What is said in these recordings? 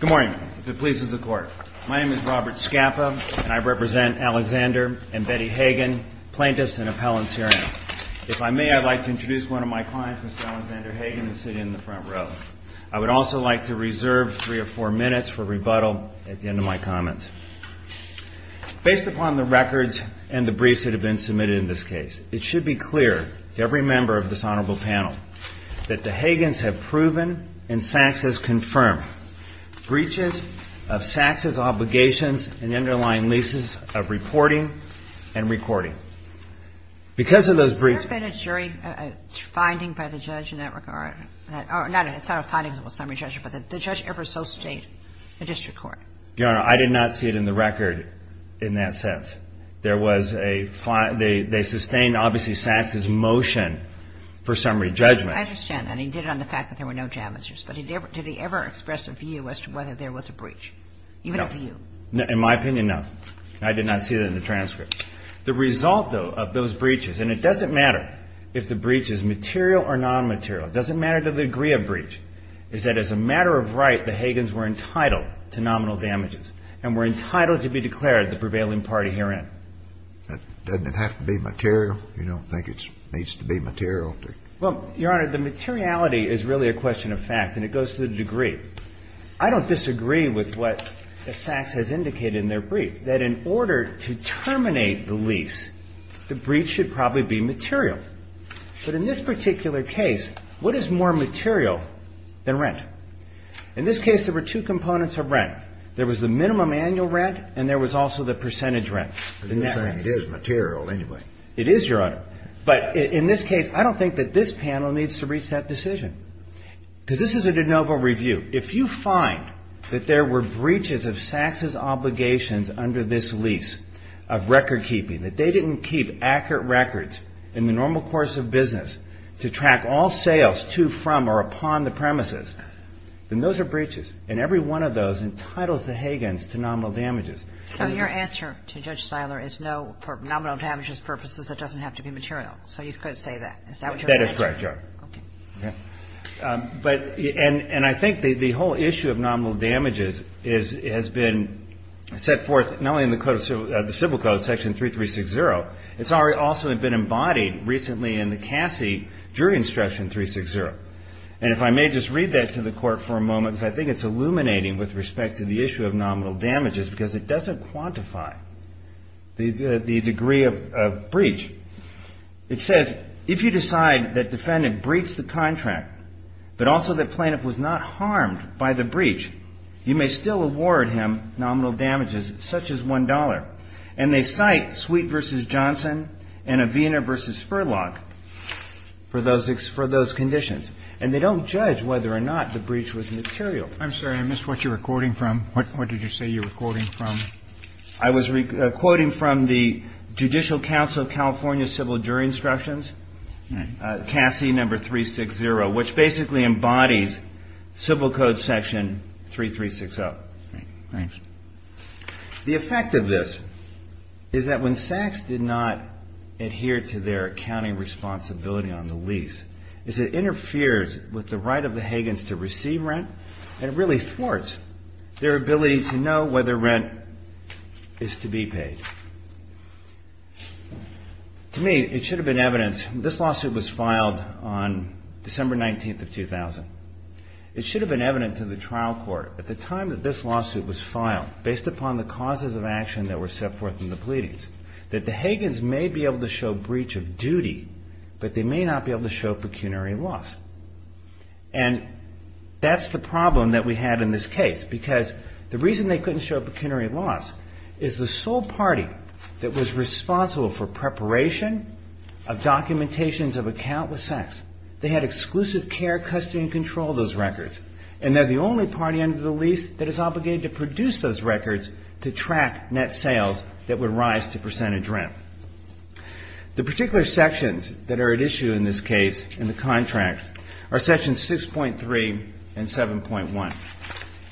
Good morning, if it pleases the Court. My name is Robert Scappa, and I represent Alexander and Betty HAAGEN, plaintiffs and appellants here. If I may, I'd like to introduce one of my clients, Mr. Alexander HAAGEN, who is sitting in the front row. I would also like to reserve three or four minutes for rebuttal at the end of my comments. Based upon the records and the briefs that have been submitted in this case, it should be clear to every member of this honorable panel that the HAAGENS have proven and SAKS has confirmed breaches of SAKS's obligations and the underlying leases of reporting and recording. Because of those breaches... There's been a jury finding by the judge in that regard. Not a finding of a summary judge, but the judge ever so state a district court. Your Honor, I did not see it in the record in that sense. There was a find they sustained, obviously, SAKS's motion for summary judgment. I understand that. He did it on the fact that there were no damages. But did he ever express a view as to whether there was a breach? No. Even a view? In my opinion, no. I did not see that in the transcript. The result, though, of those breaches, and it doesn't matter if the breach is material or nonmaterial, it doesn't matter to the degree of breach, is that as a matter of right, the HAAGENS were entitled to nominal damages and were entitled to be declared the prevailing party herein. Doesn't it have to be material? You don't think it needs to be material? Well, Your Honor, the materiality is really a question of fact, and it goes to the degree. I don't disagree with what SAKS has indicated in their brief, that in order to terminate the lease, the breach should probably be material. But in this particular case, what is more material than rent? In this case, there were two components of rent. There was the minimum annual rent and there was also the percentage rent, the net rent. But you're saying it is material anyway. It is, Your Honor. But in this case, I don't think that this panel needs to reach that decision. Because this is a de novo review. If you find that there were breaches of SAKS's obligations under this lease of record keeping, that they didn't keep accurate records in the normal course of business to track all sales to, from, or upon the premises, then those are breaches. And every one of those entitles the Hagans to nominal damages. So your answer to Judge Siler is no, for nominal damages purposes, it doesn't have to be material. So you could say that. Is that what you're saying? That is correct, Your Honor. Okay. But and I think the whole issue of nominal damages has been set forth not only in the Civil Code, Section 3360. It's also been embodied recently in the CASI jury instruction 360. And if I may just read that to the Court for a moment, because I think it's illuminating with respect to the issue of nominal damages, because it doesn't quantify the degree of breach. It says, if you decide that defendant breached the contract, but also the plaintiff was not harmed by the breach, you may still award him nominal damages, such as $1. And they cite Sweet v. Johnson and Avena v. Spurlock for those conditions. And they don't judge whether or not the breach was material. I'm sorry, I missed what you were quoting from. What did you say you were quoting from? I was quoting from the Judicial Council of California Civil Jury Instructions, CASI number 360, which basically embodies Civil Code Section 3360. Thanks. The effect of this is that when sacks did not adhere to their accounting responsibility on the lease, is it interferes with the right of the Hagans to receive rent, and it really thwarts their ability to know whether rent is to be paid. To me, it should have been evidence. This lawsuit was filed on December 19th of 2000. It should have been evident to the trial court at the time that this lawsuit was filed, based upon the causes of action that were set forth in the pleadings, that the Hagans may be able to show breach of duty, but they may not be able to show pecuniary loss. And that's the problem that we had in this case, because the reason they couldn't show of documentations of account with sacks. They had exclusive care, custody, and control of those records, and they're the only party under the lease that is obligated to produce those records to track net sales that would rise to percentage rent. The particular sections that are at issue in this case, in the contract, are sections 6.3 and 7.1.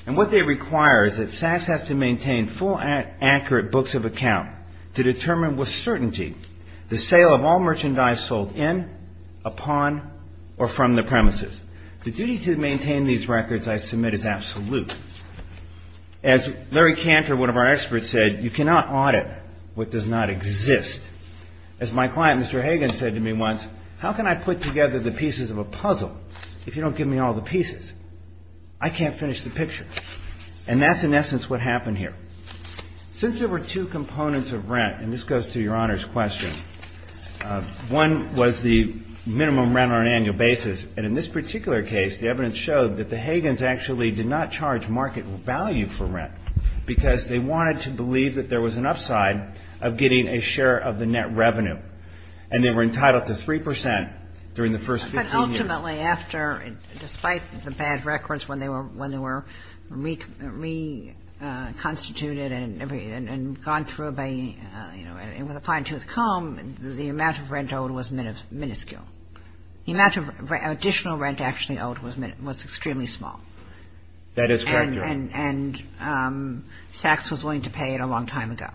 And what they require is that sacks have to maintain full and accurate books of account to determine with certainty the sale of all merchandise sold in, upon, or from the premises. The duty to maintain these records, I submit, is absolute. As Larry Cantor, one of our experts, said, you cannot audit what does not exist. As my client, Mr. Hagan, said to me once, how can I put together the pieces of a puzzle if you don't give me all the pieces? I can't finish the picture. And that's, in essence, what happened here. Since there were two components of rent, and this goes to Your Honor's question, one was the minimum rent on an annual basis. And in this particular case, the evidence showed that the Hagans actually did not charge market value for rent because they wanted to believe that there was an upside of getting a share of the net revenue. And they were entitled to 3 percent during the first 15 years. But ultimately, after, despite the bad records when they were reconstituted and gone through by, you know, and with a fine tooth comb, the amount of rent owed was minuscule. The amount of additional rent actually owed was extremely small. That is correct, Your Honor. And Sachs was willing to pay it a long time ago.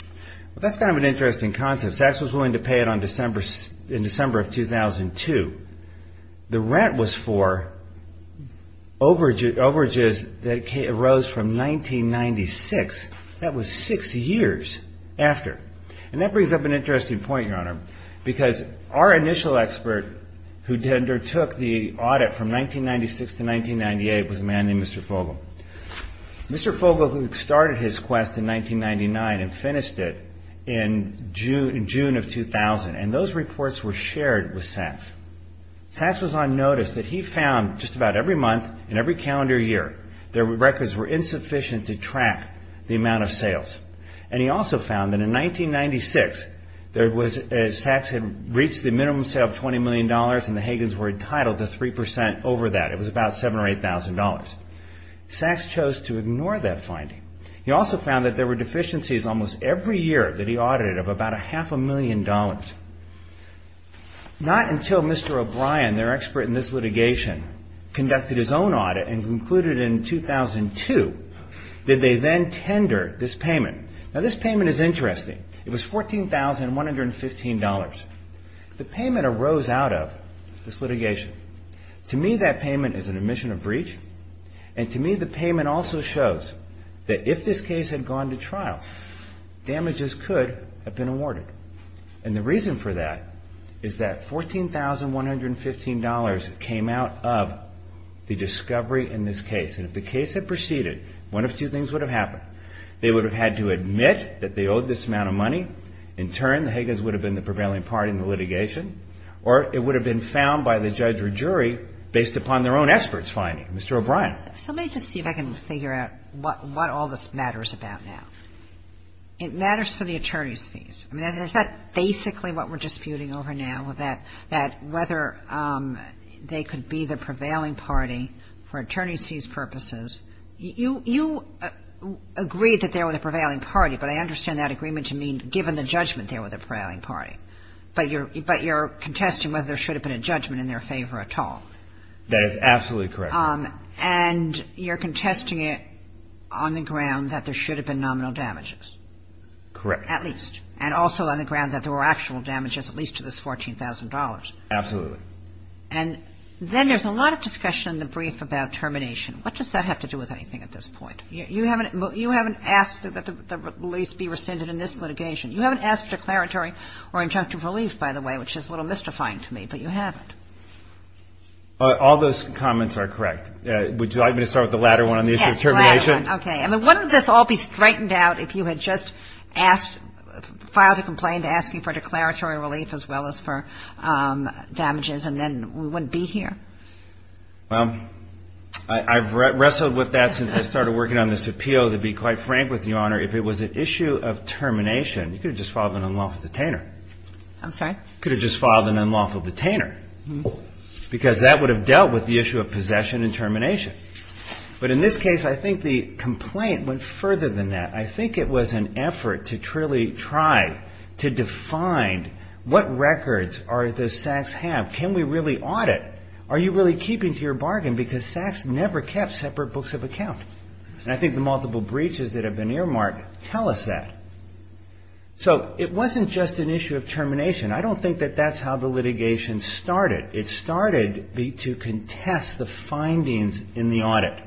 Well, that's kind of an interesting concept. Sachs was willing to pay it in December of 2002. The rent was for overages that arose from 1996. That was six years after. And that brings up an interesting point, Your Honor, because our initial expert who undertook the audit from 1996 to 1998 was a man named Mr. Fogle. Mr. Fogle started his quest in 1999 and finished it in June of 2000. And those reports were shared with Sachs. Sachs was on notice that he found just about every month and every calendar year that records were insufficient to track the amount of sales. And he also found that in 1996, Sachs had reached the minimum sale of $20 million and the Hagans were entitled to 3 percent over that. It was about $7,000 or $8,000. Sachs chose to ignore that finding. He also found that there were deficiencies almost every year that he audited of about a half a million dollars. Not until Mr. O'Brien, their expert in this litigation, conducted his own audit and concluded in 2002 that they then tendered this payment. Now, this payment is interesting. It was $14,115. The payment arose out of this litigation. To me, that payment is an admission of breach. And to me, the payment also shows that if this case had gone to trial, damages could have been awarded. And the reason for that is that $14,115 came out of the discovery in this case. And if the case had proceeded, one of two things would have happened. They would have had to admit that they owed this amount of money. In turn, the Hagans would have been the prevailing party in the litigation. Or it would have been found by the judge or jury based upon their own experts finding, Mr. O'Brien. So let me just see if I can figure out what all this matters about now. It matters for the attorney's fees. I mean, is that basically what we're disputing over now, that whether they could be the prevailing party for attorney's fees purposes? You agreed that they were the prevailing party, but I understand that agreement to mean given the judgment they were the prevailing party. But you're contesting whether there should have been a judgment in their favor at all. That is absolutely correct. And you're contesting it on the ground that there should have been nominal damages. Correct. At least. And also on the ground that there were actual damages, at least to this $14,000. Absolutely. And then there's a lot of discussion in the brief about termination. What does that have to do with anything at this point? You haven't asked that the lease be rescinded in this litigation. You haven't asked declaratory or injunctive release, by the way, which is a little mystifying to me, but you haven't. All those comments are correct. Would you like me to start with the latter one on the issue of termination? Yes, the latter one. Okay. I mean, wouldn't this all be straightened out if you had just asked, filed a complaint asking for declaratory relief as well as for damages, and then we wouldn't be here? Well, I've wrestled with that since I started working on this appeal, to be quite frank with you, Your Honor, if it was an issue of termination, you could have just filed an unlawful detainer. I'm sorry? You could have just filed an unlawful detainer, because that would have dealt with the issue of possession and termination. But in this case, I think the complaint went further than that. I think it was an effort to truly try to define what records does Sachs have. Can we really audit? Are you really keeping to your bargain? Because Sachs never kept separate books of account. And I think the multiple breaches that have been earmarked tell us that. So it wasn't just an issue of termination. I don't think that that's how the litigation started. It started to contest the findings in the audit.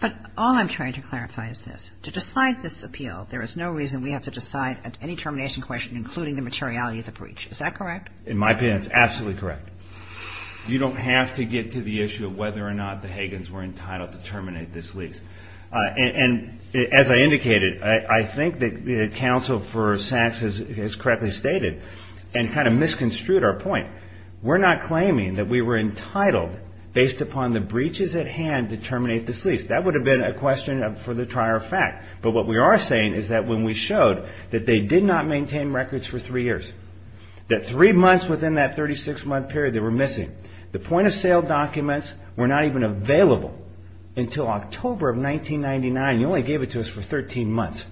But all I'm trying to clarify is this. To decide this appeal, there is no reason we have to decide any termination question including the materiality of the breach. Is that correct? In my opinion, it's absolutely correct. You don't have to get to the issue of whether or not the Hagans were entitled to terminate this lease. And as I indicated, I think that Counsel for Sachs has correctly stated and kind of misconstrued our point. We're not claiming that we were entitled, based upon the breaches at hand, to terminate this lease. That would have been a question for the trier of fact. But what we are saying is that when we showed that they did not maintain records for three years, that three months within that 36-month period they were missing, the point of sale documents were not even available until October of 1999. You only gave it to us for 13 months.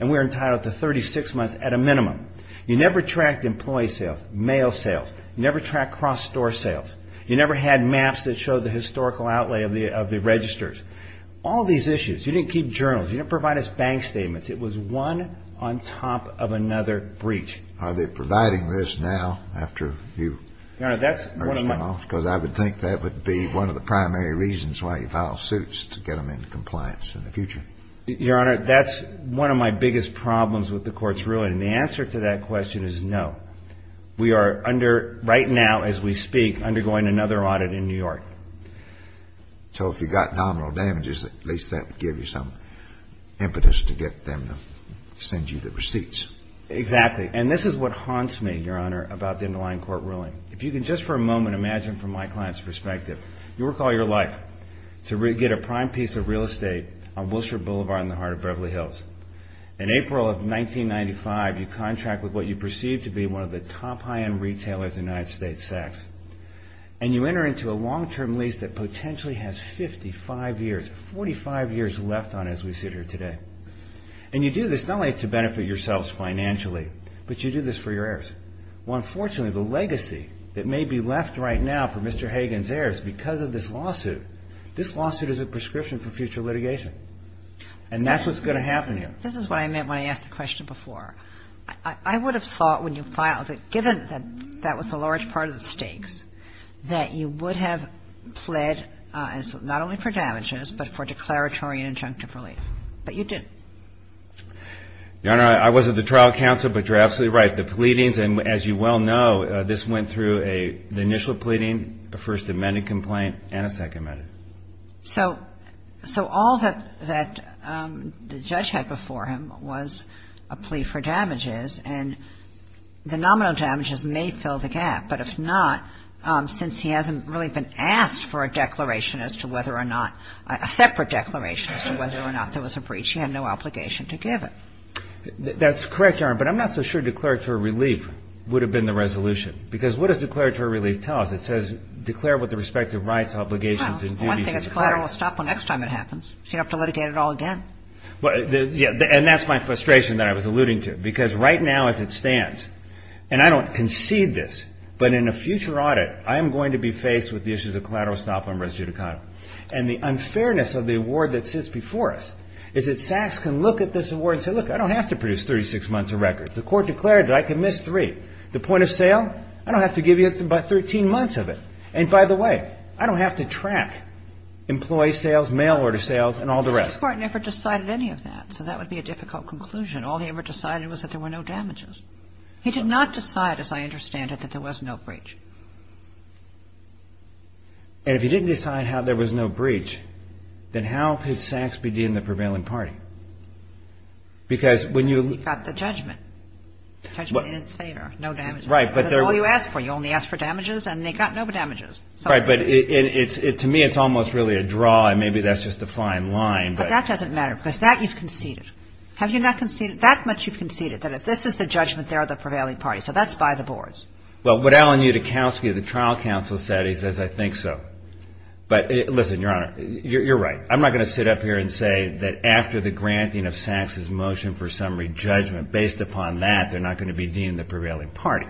And we're entitled to 36 months at a minimum. You never tracked employee sales, mail sales. You never tracked cross-store sales. You never had maps that showed the historical outlay of the registers. All these issues. You didn't keep journals. You didn't provide us bank statements. It was one on top of another breach. Are they providing this now after you merged them off? Because I would think that would be one of the primary reasons why you file suits to get them into compliance in the future. Your Honor, that's one of my biggest problems with the Court's ruling. And the answer to that question is no. We are under, right now as we speak, undergoing another audit in New York. So if you got nominal damages, at least that would give you some impetus to get them to send you the receipts. Exactly. And this is what haunts me, Your Honor, about the underlying court ruling. If you can just for a moment imagine from my client's perspective. You work all your life to get a prime piece of real estate on Wilshire Boulevard in the heart of Beverly Hills. In April of 1995, you contract with what you perceive to be one of the top high-end retailers in the United States, Sachs. And you enter into a long-term lease that potentially has 55 years, 45 years left on it as we sit here today. And you do this not only to benefit yourselves financially, but you do this for your heirs. Well, unfortunately, the legacy that may be left right now for Mr. Hagan's heirs because of this lawsuit, this lawsuit is a prescription for future litigation. And that's what's going to happen here. This is what I meant when I asked the question before. I would have thought when you filed it, given that that was a large part of the stakes, that you would have pled not only for damages, but for declaratory and injunctive relief. But you didn't. Your Honor, I was at the trial counsel, but you're absolutely right. The pleadings, and as you well know, this went through the initial pleading, a first amendment complaint, and a second amendment. So all that the judge had before him was a plea for damages. And the nominal damages may fill the gap. But if not, since he hasn't really been asked for a declaration as to whether or not, a separate declaration as to whether or not there was a breach, he had no obligation to give it. That's correct, Your Honor. But I'm not so sure declaratory relief would have been the resolution. Because what does declaratory relief tell us? It says declare with the respective rights, obligations, and duties. Well, one thing, it's collateral estoppel next time it happens. So you don't have to litigate it all again. And that's my frustration that I was alluding to. Because right now as it stands, and I don't concede this, but in a future audit, I am going to be faced with the issues of collateral estoppel and res judicata. And the unfairness of the award that sits before us is that Saks can look at this award and say, look, I don't have to produce 36 months of records. The Court declared that I can miss three. The point of sale, I don't have to give you 13 months of it. And by the way, I don't have to track employee sales, mail order sales, and all the rest. The Court never decided any of that. So that would be a difficult conclusion. All he ever decided was that there were no damages. He did not decide, as I understand it, that there was no breach. And if he didn't decide how there was no breach, then how could Saks be dealing with the prevailing party? Because when you – He got the judgment. Judgment in its favor. No damages. Right. That's all you ask for. You only ask for damages, and they got no damages. Right. But to me it's almost really a draw, and maybe that's just a fine line. But that doesn't matter, because that you've conceded. Have you not conceded? That much you've conceded, that if this is the judgment, they're the prevailing party. So that's by the boards. Well, what Alan Utakowski of the Trial Council said, he says, I think so. But listen, Your Honor, you're right. I'm not going to sit up here and say that after the granting of Saks's motion for summary judgment, based upon that, they're not going to be dealing with the prevailing party.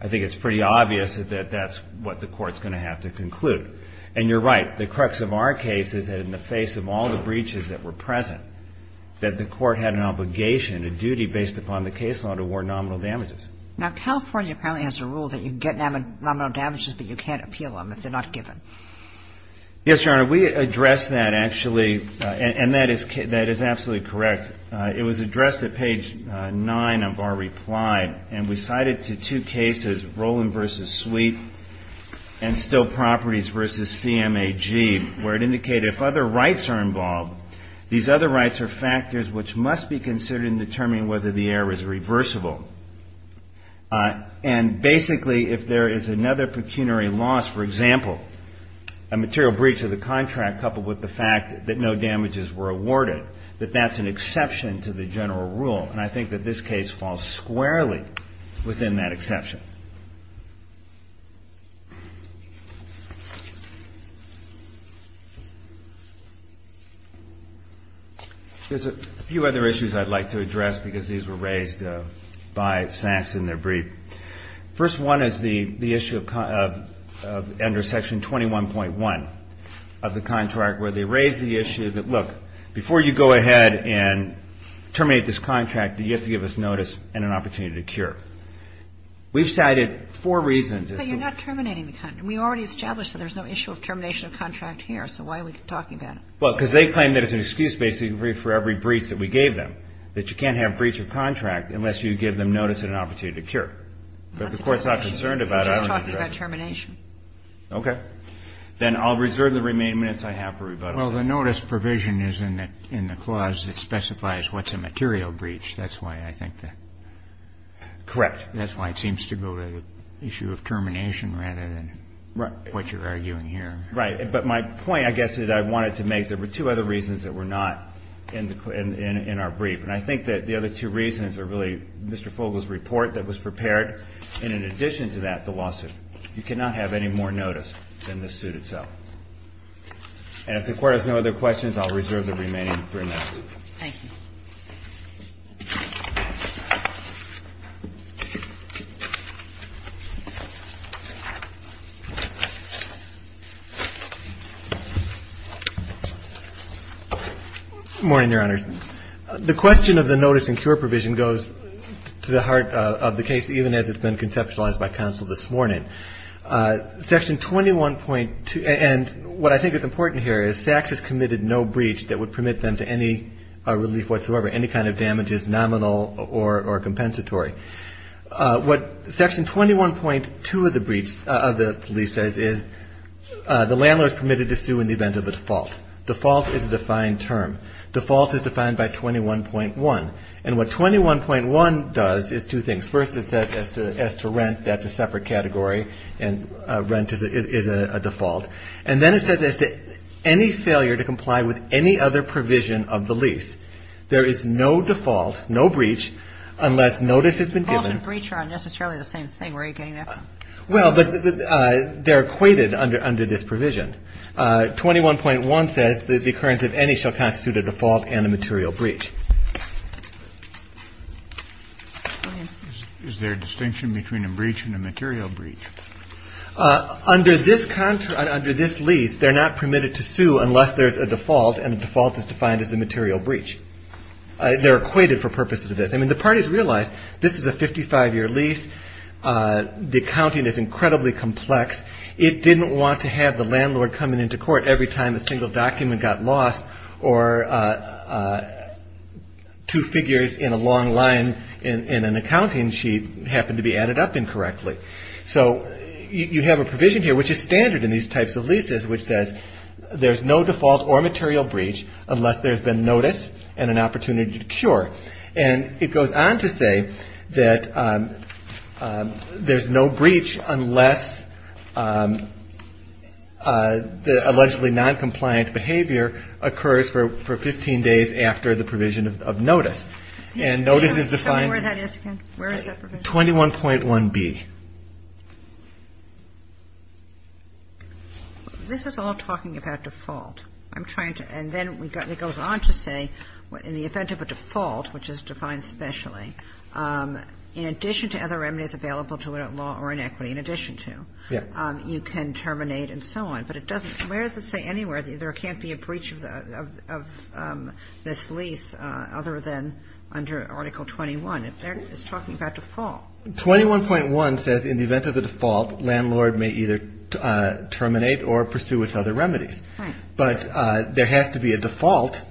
I think it's pretty obvious that that's what the Court's going to have to conclude. And you're right. The crux of our case is that in the face of all the breaches that were present, that the Court had an obligation, a duty based upon the case law to award nominal damages. Now, California apparently has a rule that you get nominal damages, but you can't appeal them if they're not given. Yes, Your Honor. We addressed that, actually. And that is absolutely correct. It was addressed at page 9 of our reply. And we cited to two cases, Roland v. Sweet and Still Properties v. CMAG, where it indicated if other rights are involved, these other rights are factors which must be considered in determining whether the error is reversible. And basically, if there is another pecuniary loss, for example, a material breach of the contract coupled with the fact that no damages were awarded, that that's an exception to the general rule. And I think that this case falls squarely within that exception. There's a few other issues I'd like to address because these were raised by SACS in their brief. First one is the issue of under Section 21.1 of the contract where they raise the issue that, look, before you go ahead and terminate this contract, you have to give us notice and an opportunity to cure. We've cited four reasons as to why. But you're not terminating the contract. We already established that there's no issue of termination of contract here. So why are we talking about it? Well, because they claim that it's an excuse basically for every breach that we gave them, that you can't have breach of contract unless you give them notice and an opportunity to cure. But the Court's not concerned about it. We're just talking about termination. Okay. Then I'll reserve the remaining minutes I have for rebuttal. Well, the notice provision is in the clause that specifies what's a material breach. That's why I think that. Correct. That's why it seems to go to the issue of termination rather than what you're arguing here. Right. But my point, I guess, is I wanted to make there were two other reasons that were not in our brief. And I think that the other two reasons are really Mr. Fogle's report that was prepared, and in addition to that, the lawsuit. You cannot have any more notice than the suit itself. And if the Court has no other questions, I'll reserve the remaining three minutes. Thank you. Good morning, Your Honors. The question of the notice and cure provision goes to the heart of the case, even as it's been conceptualized by counsel this morning. Section 21.2, and what I think is important here is SACS has committed no breach that would damage is nominal or compensatory. What Section 21.2 of the lease says is the landlord is permitted to sue in the event of a default. Default is a defined term. Default is defined by 21.1. And what 21.1 does is two things. First, it says as to rent, that's a separate category, and rent is a default. And then it says as to any failure to comply with any other provision of the lease. There is no default, no breach, unless notice has been given. Well, and breach aren't necessarily the same thing. Where are you getting that from? Well, they're equated under this provision. 21.1 says that the occurrence of any shall constitute a default and a material breach. Go ahead. Is there a distinction between a breach and a material breach? Under this lease, they're not permitted to sue unless there's a default, and a default is defined as a material breach. They're equated for purposes of this. I mean, the parties realize this is a 55-year lease. The accounting is incredibly complex. It didn't want to have the landlord coming into court every time a single document got lost or two figures in a long line in an accounting sheet happened to be added up incorrectly. So you have a provision here, which is standard in these types of leases, which says there's no default or material breach unless there's been notice and an opportunity to cure. And it goes on to say that there's no breach unless the allegedly noncompliant behavior occurs for 15 days after the provision of notice. And notice is defined as 21.1B. This is all talking about default. I'm trying to – and then it goes on to say in the event of a default, which is defined specially, in addition to other remedies available to a law or an equity, in addition to, you can terminate and so on. But it doesn't – where does it say anywhere there can't be a breach of this lease other than under Article 21? It's talking about default. 21.1 says in the event of a default, landlord may either terminate or pursue with other remedies. Right. But there has to be a default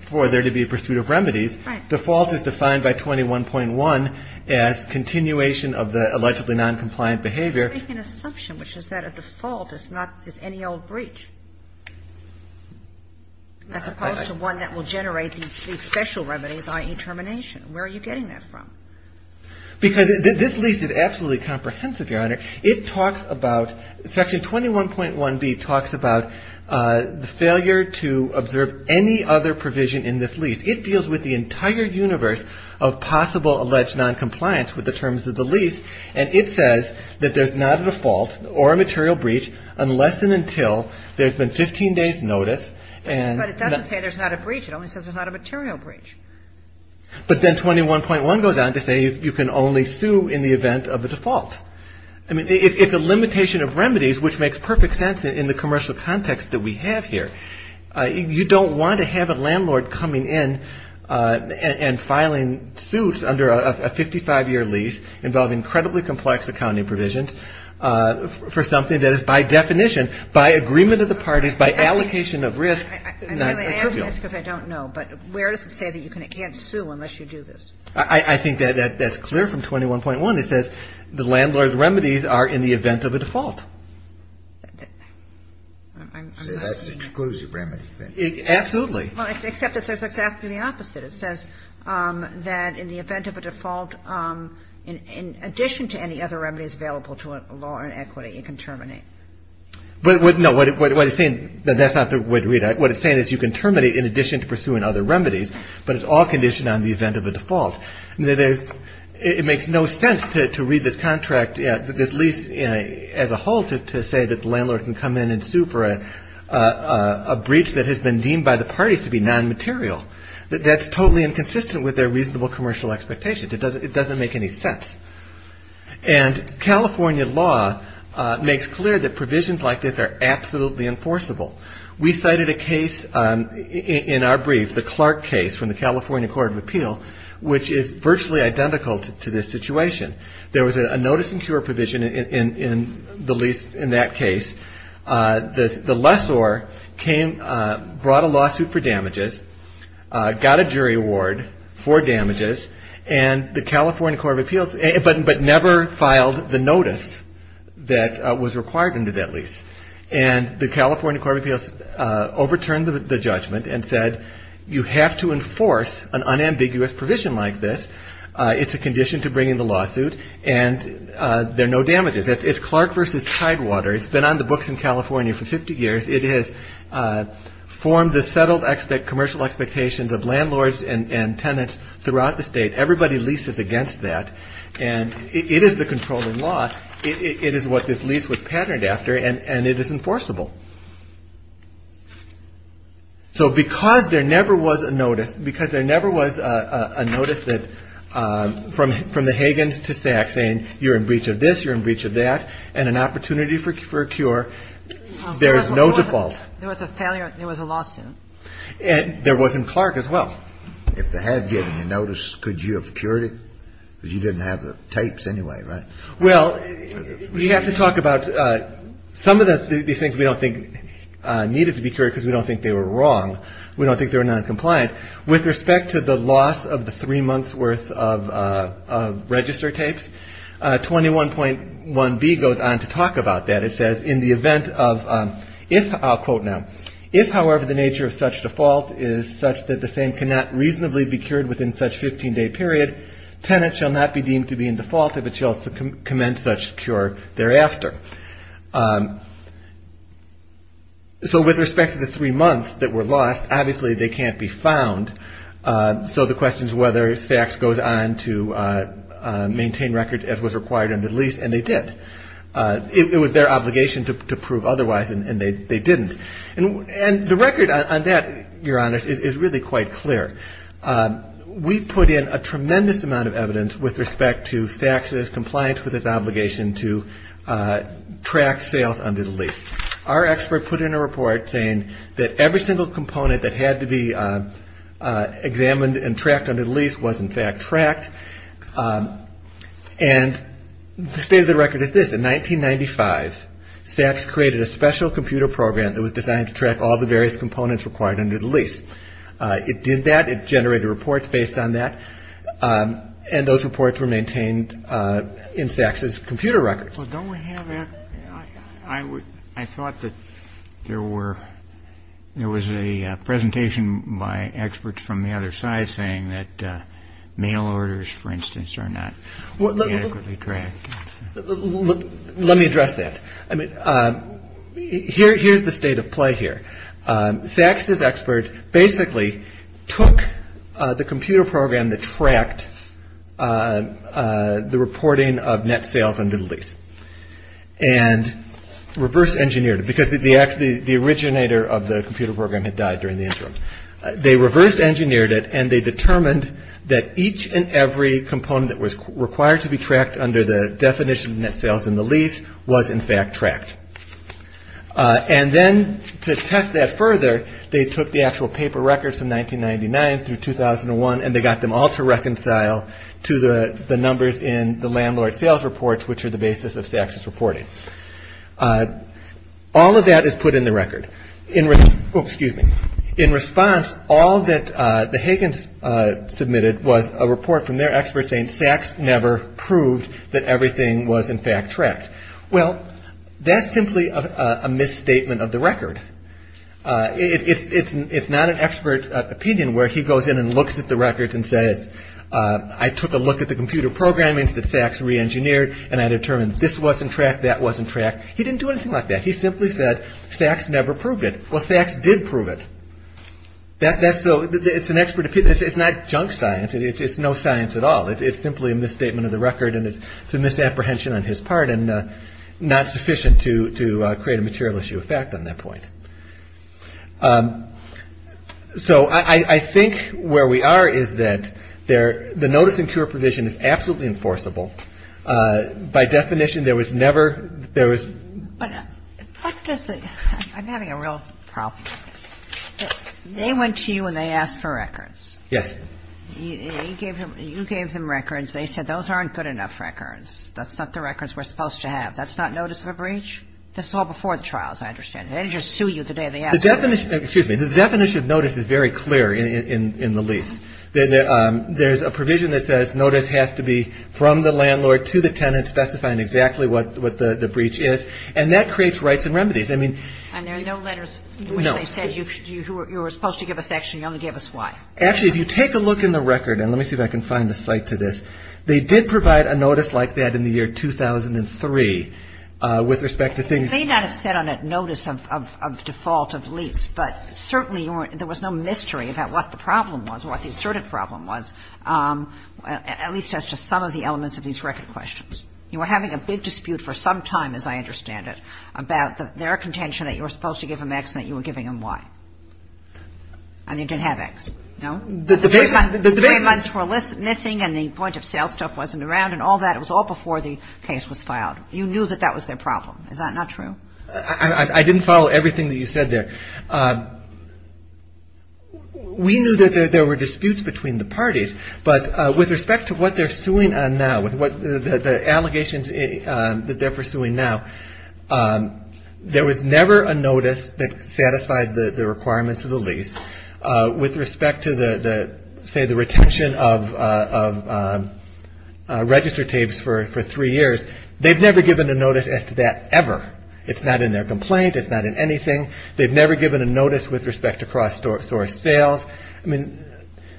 for there to be a pursuit of remedies. Right. Default is defined by 21.1 as continuation of the allegedly noncompliant behavior. You're making an assumption, which is that a default is not – is any old breach, as opposed to one that will generate these special remedies, i.e. termination. Where are you getting that from? Because this lease is absolutely comprehensive, Your Honor. It talks about – Section 21.1B talks about the failure to observe any other provision in this lease. It deals with the entire universe of possible alleged noncompliance with the terms of the lease. And it says that there's not a default or a material breach unless and until there's been 15 days' notice. But it doesn't say there's not a breach. It only says there's not a material breach. But then 21.1 goes on to say you can only sue in the event of a default. I mean, it's a limitation of remedies, which makes perfect sense in the commercial context that we have here. You don't want to have a landlord coming in and filing suits under a 55-year lease involving incredibly complex accounting provisions for something that is, by definition, by agreement of the parties, by allocation of risk, not trivial. That's because I don't know. But where does it say that you can't sue unless you do this? I think that's clear from 21.1. It says the landlord's remedies are in the event of a default. So that's an exclusive remedy then? Absolutely. Well, except it says exactly the opposite. It says that in the event of a default, in addition to any other remedies available to a law or an equity, it can terminate. No, what it's saying – that's not the way to read it. What it's saying is you can terminate in addition to pursuing other remedies, but it's all conditioned on the event of a default. It makes no sense to read this contract, this lease as a whole, to say that the landlord can come in and sue for a breach that has been deemed by the parties to be nonmaterial. That's totally inconsistent with their reasonable commercial expectations. It doesn't make any sense. And California law makes clear that provisions like this are absolutely enforceable. We cited a case in our brief, the Clark case from the California Court of Appeal, which is virtually identical to this situation. There was a notice and cure provision in that case. The lessor brought a lawsuit for damages, got a jury award for damages, but never filed the notice that was required under that lease. And the California Court of Appeals overturned the judgment and said you have to enforce an unambiguous provision like this. It's a condition to bring in the lawsuit, and there are no damages. It's Clark versus Tidewater. It's been on the books in California for 50 years. It has formed the settled commercial expectations of landlords and tenants throughout the state. Everybody leases against that, and it is the controlling law. It is what this lease was patterned after, and it is enforceable. So because there never was a notice, because there never was a notice that from the Hagans to Saks saying you're in breach of this, you're in breach of that, and an opportunity for a cure, there is no default. There was a failure. There was a lawsuit. And there wasn't Clark as well. If they had given you notice, could you have cured it? Because you didn't have the tapes anyway, right? Well, we have to talk about some of these things we don't think needed to be cured because we don't think they were wrong. We don't think they were noncompliant. With respect to the loss of the three months' worth of register tapes, 21.1b goes on to talk about that. It says in the event of if, I'll quote now, if, however, the nature of such default is such that the same cannot reasonably be cured within such 15-day period, tenants shall not be deemed to be in default if it shall commence such cure thereafter. So with respect to the three months that were lost, obviously they can't be found. So the question is whether Saks goes on to maintain records as was required under the lease, and they did. It was their obligation to prove otherwise, and they didn't. And the record on that, Your Honors, is really quite clear. We put in a tremendous amount of evidence with respect to Saks' compliance with its obligation to track sales under the lease. Our expert put in a report saying that every single component that had to be examined and tracked under the lease was, in fact, tracked. And the state of the record is this. In 1995, Saks created a special computer program that was designed to track all the various components required under the lease. It did that. It generated reports based on that, and those reports were maintained in Saks' computer records. Well, don't we have that? I thought that there was a presentation by experts from the other side saying that mail orders, for instance, are not adequately tracked. Let me address that. I mean, here's the state of play here. Saks' experts basically took the computer program that tracked the reporting of net sales under the lease and reverse engineered it because the originator of the computer program had died during the interim. They reverse engineered it, and they determined that each and every component that was required to be tracked under the definition of net sales in the lease was, in fact, tracked. And then to test that further, they took the actual paper records from 1999 through 2001, and they got them all to reconcile to the numbers in the landlord sales reports, which are the basis of Saks' reporting. All of that is put in the record. In response, all that the Higgins submitted was a report from their experts saying Saks never proved that everything was, in fact, tracked. Well, that's simply a misstatement of the record. It's not an expert opinion where he goes in and looks at the records and says, I took a look at the computer programming that Saks reengineered, and I determined this wasn't tracked, that wasn't tracked. He didn't do anything like that. He simply said Saks never proved it. Well, Saks did prove it. That's an expert opinion. It's not junk science. It's no science at all. It's simply a misstatement of the record, and it's a misapprehension on his part. And not sufficient to create a material issue of fact on that point. So I think where we are is that the notice and cure provision is absolutely enforceable. By definition, there was never – there was – But what does the – I'm having a real problem with this. They went to you and they asked for records. Yes. You gave them records. They said those aren't good enough records. That's not the records we're supposed to have. That's not notice of a breach. This is all before the trials, I understand. They didn't just sue you the day they asked for it. Excuse me. The definition of notice is very clear in the lease. There's a provision that says notice has to be from the landlord to the tenant specifying exactly what the breach is. And that creates rights and remedies. I mean – And there are no letters in which they said you were supposed to give us X and you only gave us Y. Actually, if you take a look in the record – and let me see if I can find the cite to this. They did provide a notice like that in the year 2003 with respect to things – They may not have said on that notice of default of lease, but certainly there was no mystery about what the problem was or what the asserted problem was, at least as to some of the elements of these record questions. You were having a big dispute for some time, as I understand it, about their contention that you were supposed to give them X and that you were giving them Y. And you didn't have X. No? The three months were missing and the point of sale stuff wasn't around and all that. It was all before the case was filed. You knew that that was their problem. Is that not true? I didn't follow everything that you said there. We knew that there were disputes between the parties, but with respect to what they're suing on now, with the allegations that they're pursuing now, there was never a notice that satisfied the requirements of the lease. With respect to the, say, the retention of register tapes for three years, they've never given a notice as to that ever. It's not in their complaint. It's not in anything. They've never given a notice with respect to cross-source sales. I mean,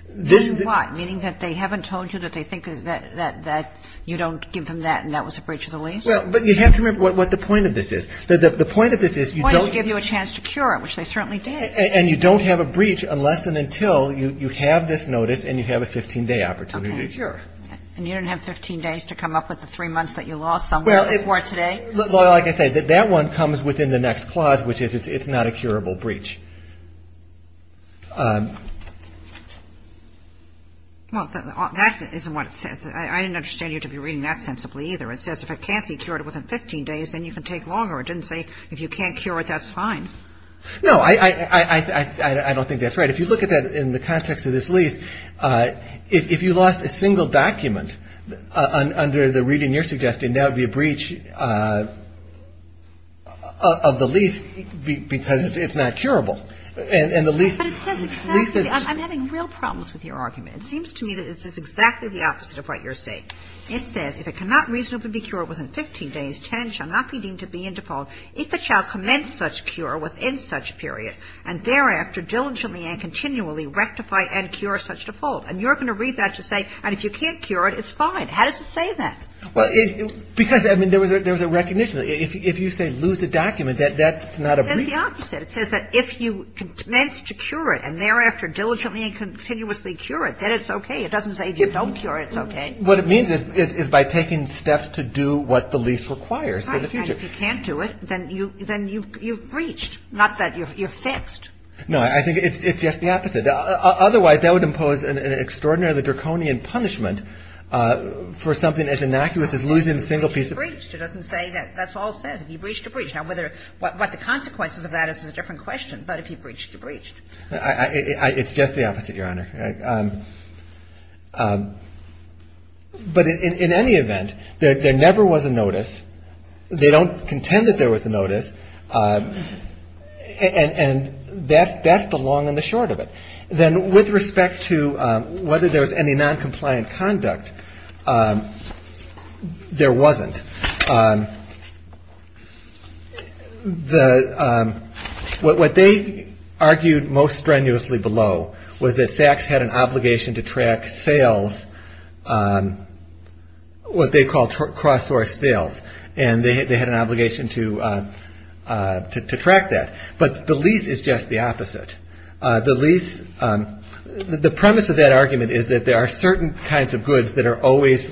this is the – Meaning what? Meaning that they haven't told you that they think that you don't give them that and that was a breach of the lease? Well, but you have to remember what the point of this is. The point of this is you don't – They wanted to give you a chance to cure it, which they certainly did. And you don't have a breach unless and until you have this notice and you have a 15-day opportunity to cure. Okay. And you don't have 15 days to come up with the three months that you lost somewhere before today? Well, like I said, that one comes within the next clause, which is it's not a curable breach. Well, that isn't what it says. I didn't understand you to be reading that sensibly either. It says if it can't be cured within 15 days, then you can take longer. It didn't say if you can't cure it, that's fine. No. I don't think that's right. If you look at that in the context of this lease, if you lost a single document under the reading you're suggesting, that would be a breach of the lease because it's not curable. And the lease – But it says exactly – I'm having real problems with your argument. It seems to me that this is exactly the opposite of what you're saying. It says if it cannot reasonably be cured within 15 days, 10 shall not be deemed to be in default. If it shall commence such cure within such period and thereafter diligently and continually rectify and cure such default. And you're going to read that to say and if you can't cure it, it's fine. How does it say that? Well, because, I mean, there was a recognition. If you say lose the document, that's not a breach. It says the opposite. It says that if you commence to cure it and thereafter diligently and continuously cure it, then it's okay. It doesn't say if you don't cure it, it's okay. What it means is by taking steps to do what the lease requires for the future. If you can't do it, then you've breached, not that you're fixed. No. I think it's just the opposite. Otherwise, that would impose an extraordinarily draconian punishment for something as innocuous as losing a single piece of – If you breached, it doesn't say that. That's all it says. If you breached, you breached. Now, whether – what the consequences of that is a different question. But if you breached, you breached. It's just the opposite, Your Honor. But in any event, there never was a notice. They don't contend that there was a notice. And that's the long and the short of it. Then with respect to whether there was any noncompliant conduct, there wasn't. What they argued most strenuously below was that Sachs had an obligation to track sales, what they called cross-source sales. And they had an obligation to track that. But the lease is just the opposite. The premise of that argument is that there are certain kinds of goods that are always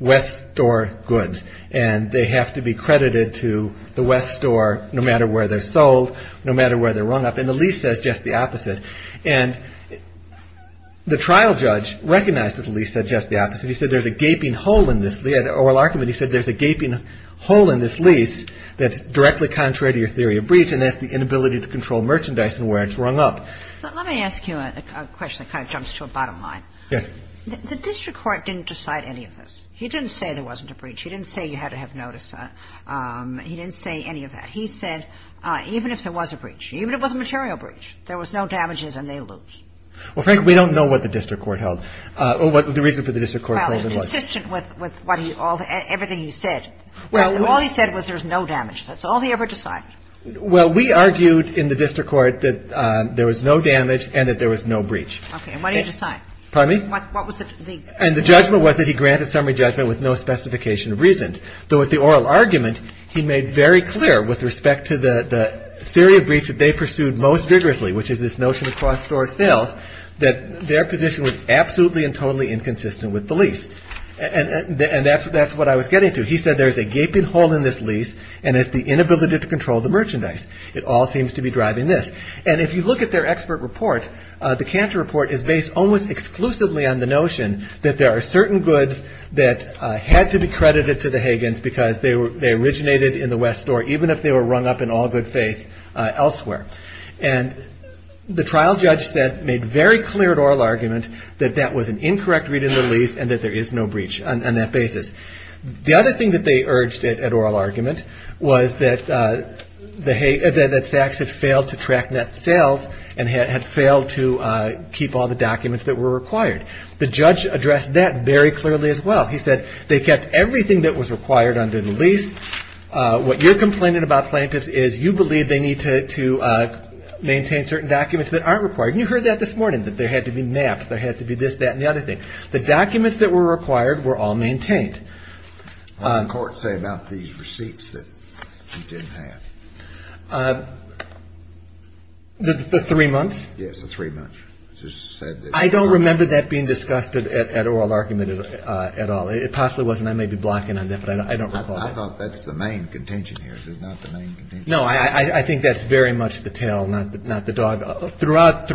West Store goods. And they have to be credited to the West Store no matter where they're sold, no matter where they're rung up. And the lease says just the opposite. And the trial judge recognized that the lease said just the opposite. He said there's a gaping hole in this. In the oral argument, he said there's a gaping hole in this lease that's directly contrary to your theory of breach. And that's the inability to control merchandise and where it's rung up. Let me ask you a question that kind of jumps to a bottom line. Yes. The district court didn't decide any of this. He didn't say there wasn't a breach. He didn't say you had to have notice. He didn't say any of that. He said even if there was a breach, even if it was a material breach, there was no damages and they lose. Well, Frank, we don't know what the district court held or what the reason for the district court's holding was. Well, consistent with everything he said. All he said was there's no damage. That's all he ever decided. Well, we argued in the district court that there was no damage and that there was no breach. Okay. And what did he decide? Pardon me? What was the? And the judgment was that he granted summary judgment with no specification of reasons. Though with the oral argument, he made very clear with respect to the theory of breach that they pursued most vigorously, which is this notion of cross-store sales, that their position was absolutely and totally inconsistent with the lease. And that's what I was getting to. He said there's a gaping hole in this lease. And it's the inability to control the merchandise. It all seems to be driving this. And if you look at their expert report, the Cantor report is based almost exclusively on the notion that there are certain goods that had to be credited to the Hagans because they originated in the West Store, even if they were rung up in all good faith elsewhere. And the trial judge said, made very clear at oral argument, that that was an incorrect reading of the lease and that there is no breach on that basis. The other thing that they urged at oral argument was that Sachs had failed to track net sales and had failed to keep all the documents that were required. The judge addressed that very clearly as well. He said they kept everything that was required under the lease. What you're complaining about, plaintiffs, is you believe they need to maintain certain documents that aren't required. And you heard that this morning, that there had to be maps. There had to be this, that, and the other thing. The documents that were required were all maintained. What did the court say about these receipts that she didn't have? The three months? Yes, the three months. I don't remember that being discussed at oral argument at all. It possibly was, and I may be blocking on that, but I don't recall that. I thought that's the main contention here. Is it not the main contention? No, I think that's very much the tail, not the dog. Throughout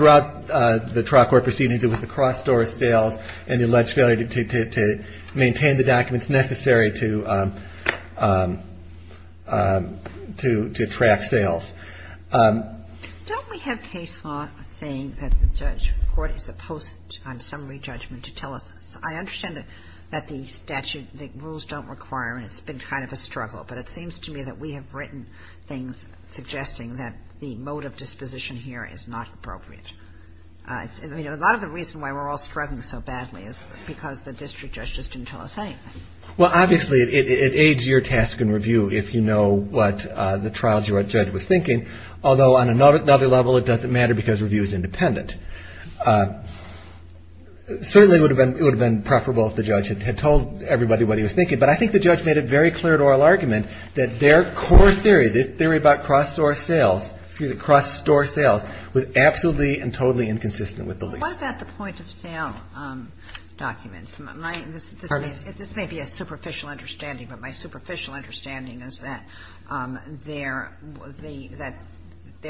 the trial court proceedings, it was the cross-door sales and the alleged failure to maintain the documents necessary to track sales. Don't we have case law saying that the judge, the court is opposed to summary judgment to tell us? I understand that the statute, the rules don't require, and it's been kind of a struggle, but it seems to me that we have written things suggesting that the mode of disposition here is not appropriate. A lot of the reason why we're all struggling so badly is because the district judge just didn't tell us anything. Well, obviously, it aids your task in review if you know what the trial judge was thinking, although on another level, it doesn't matter because review is independent. Certainly, it would have been preferable if the judge had told everybody what he was thinking, but I think the judge made it very clear in oral argument that their core theory, this theory about cross-door sales, excuse me, cross-store sales, was absolutely and totally inconsistent with the least. What about the point-of-sale documents? This may be a superficial understanding, but my superficial understanding is that there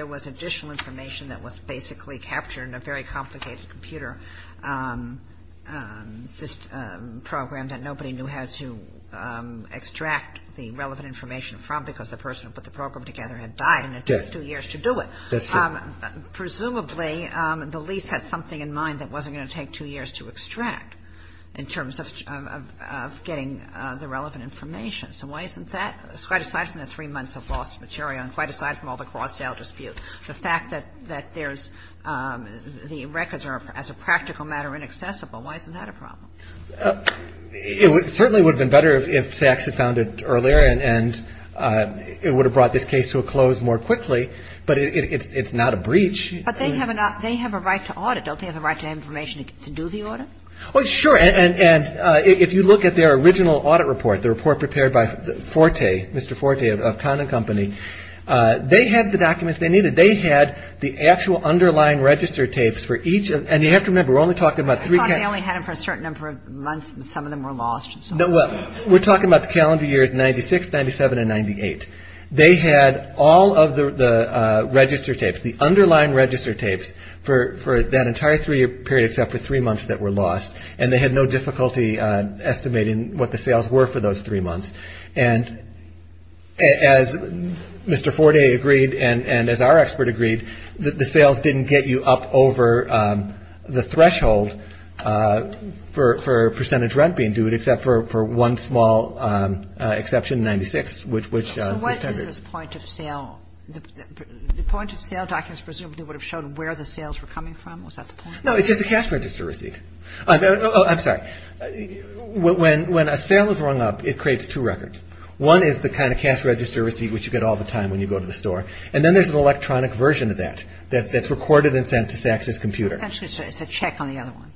was additional information that was basically captured in a very complicated computer program that nobody knew how to extract the relevant information from because the person who put the program together had died and it took two years to do it. Presumably, the lease had something in mind that wasn't going to take two years to extract in terms of getting the relevant information. So why isn't that? Quite aside from the three months of lost material and quite aside from all the cross-sale dispute, the fact that there's the records are, as a practical matter, inaccessible, why isn't that a problem? It certainly would have been better if Sachs had found it earlier and it would have brought this case to a close more quickly, but it's not a breach. But they have a right to audit. Don't they have a right to information to do the audit? Oh, sure. And if you look at their original audit report, the report prepared by Forte, Mr. Forte of Conin Company, they had the documents they needed. They had the actual underlying register tapes for each of them. And you have to remember, we're only talking about three calendars. I thought they only had them for a certain number of months and some of them were lost. No, well, we're talking about the calendar years 96, 97, and 98. They had all of the register tapes, the underlying register tapes for that entire three-year period except for three months that were lost, and they had no difficulty estimating what the sales were for those three months. And as Mr. Forte agreed and as our expert agreed, the sales didn't get you up over the threshold for percentage rent being due, except for one small exception, 96, which we've covered. So what is this point of sale? The point of sale documents presumably would have showed where the sales were coming from. Was that the point? No, it's just a cash register receipt. I'm sorry. When a sale is rung up, it creates two records. One is the kind of cash register receipt which you get all the time when you go to the store. And then there's an electronic version of that that's recorded and sent to SACS's computer. Actually, sir, it's a check on the other one.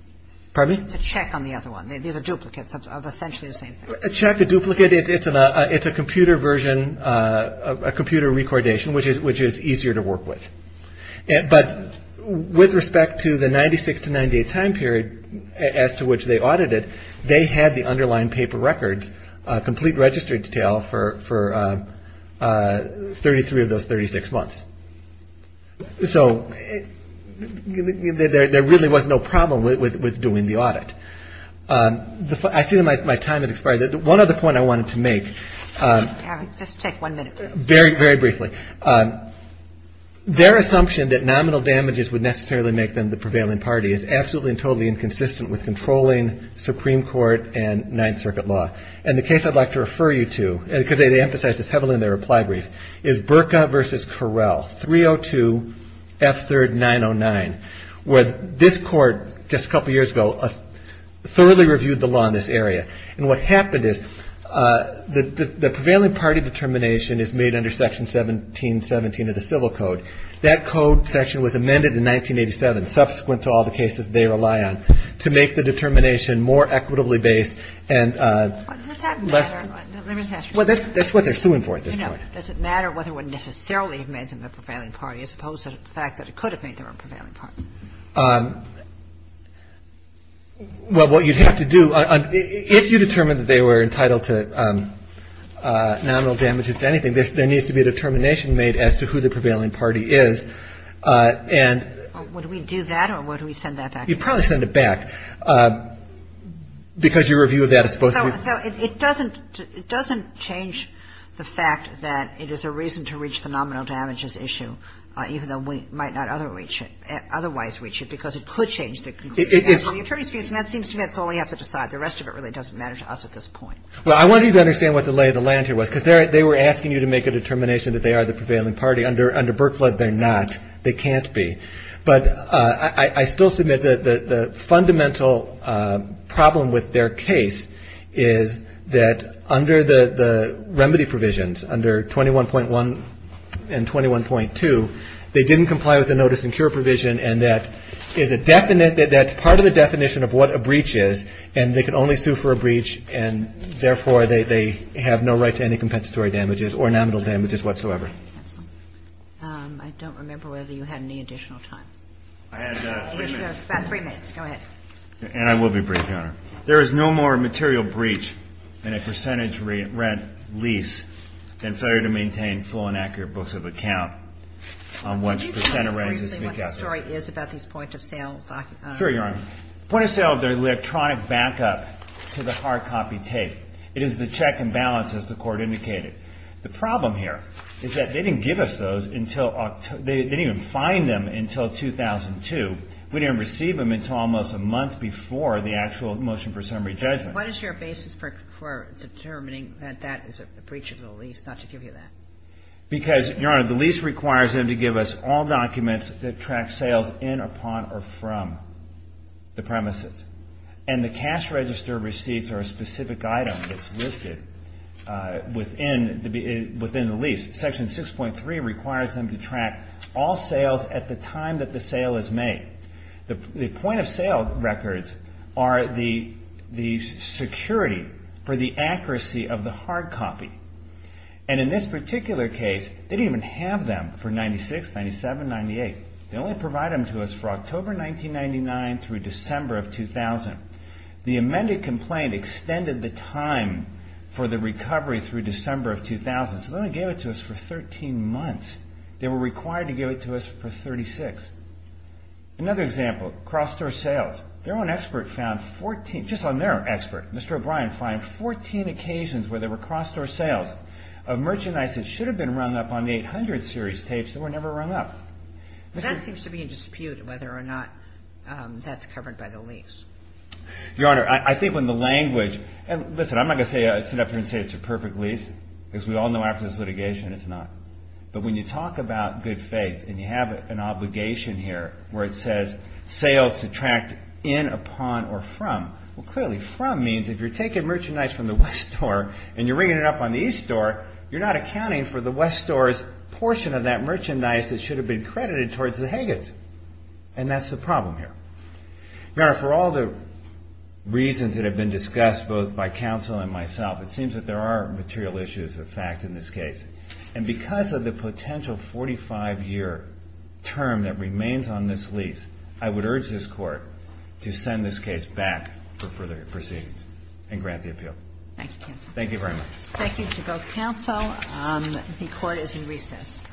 Pardon me? It's a check on the other one. These are duplicates of essentially the same thing. A check, a duplicate. It's a computer version, a computer recordation, which is easier to work with. But with respect to the 96 to 98 time period as to which they audited, they had the underlying paper records, complete registry detail for 33 of those 36 months. So there really was no problem with doing the audit. I see that my time has expired. One other point I wanted to make. Just take one minute. Very briefly. Their assumption that nominal damages would necessarily make them the prevailing party is absolutely and totally inconsistent with controlling Supreme Court and Ninth Circuit law. And the case I'd like to refer you to, because they emphasized this heavily in their reply brief, is Berka v. Correll, 302 F3rd 909, where this court just a couple years ago thoroughly reviewed the law in this area. And what happened is the prevailing party determination is made under Section 1717 of the Civil Code. That code section was amended in 1987, subsequent to all the cases they rely on, to make the determination more equitably based and less. Let me just ask you a question. Well, that's what they're suing for at this point. You know, does it matter whether it would necessarily have made them the prevailing party as opposed to the fact that it could have made them a prevailing party? Well, what you'd have to do, if you determined that they were entitled to nominal damages to anything, there needs to be a determination made as to who the prevailing party is. And you'd probably send it back, because your review of that is supposed to be. So it doesn't change the fact that it is a reason to reach the nominal damages issue, even though we might not otherwise reach it, because it could change the conclusion. And so the attorney's view is that seems to me that's all we have to decide. The rest of it really doesn't matter to us at this point. Well, I wanted you to understand what the lay of the land here was, because they were asking you to make a determination that they are the prevailing party. Under Burt Flood, they're not. They can't be. But I still submit that the fundamental problem with their case is that under the remedy 1.2, they didn't comply with the notice and cure provision, and that is a definite – that's part of the definition of what a breach is, and they can only sue for a breach, and therefore, they have no right to any compensatory damages or nominal damages whatsoever. I don't remember whether you had any additional time. I had three minutes. About three minutes. Go ahead. And I will be brief, Your Honor. There is no more material breach in a percentage rent lease than failure to maintain full and accurate books of account on which percent of rents is to be kept. Can you tell us briefly what the story is about these point-of-sale documents? Sure, Your Honor. Point-of-sale, they're electronic backup to the hard copy tape. It is the check and balance, as the Court indicated. The problem here is that they didn't give us those until – they didn't even find them until 2002. We didn't receive them until almost a month before the actual motion for summary judgment. What is your basis for determining that that is a breach of the lease, not to give you that? Because, Your Honor, the lease requires them to give us all documents that track sales in, upon, or from the premises. And the cash register receipts are a specific item that's listed within the lease. Section 6.3 requires them to track all sales at the time that the sale is made. The point-of-sale records are the security for the accuracy of the hard copy. And in this particular case, they didn't even have them for 1996, 1997, 1998. They only provided them to us for October 1999 through December of 2000. The amended complaint extended the time for the recovery through December of 2000, so they only gave it to us for 13 months. They were required to give it to us for 36. Another example, cross-store sales. Their own expert found 14 – just on their own expert, Mr. O'Brien, found 14 occasions where there were cross-store sales of merchandise that should have been rung up on the 800 series tapes that were never rung up. But that seems to be in dispute, whether or not that's covered by the lease. Your Honor, I think when the language – and listen, I'm not going to sit up here and say it's a perfect lease, because we all know after this litigation it's not. But when you talk about good faith and you have an obligation here where it says sales to track in, upon, or from, well, clearly from means if you're taking merchandise from the West Store and you're ringing it up on the East Store, you're not accounting for the West Store's portion of that merchandise that should have been credited towards the Higgins. And that's the problem here. Your Honor, for all the reasons that have been discussed both by counsel and myself, it seems that there are material issues of fact in this case. And because of the potential 45-year term that remains on this lease, I would urge this Court to send this case back for further proceedings and grant the appeal. Thank you, counsel. Thank you very much. Thank you to both counsel. The Court is in recess.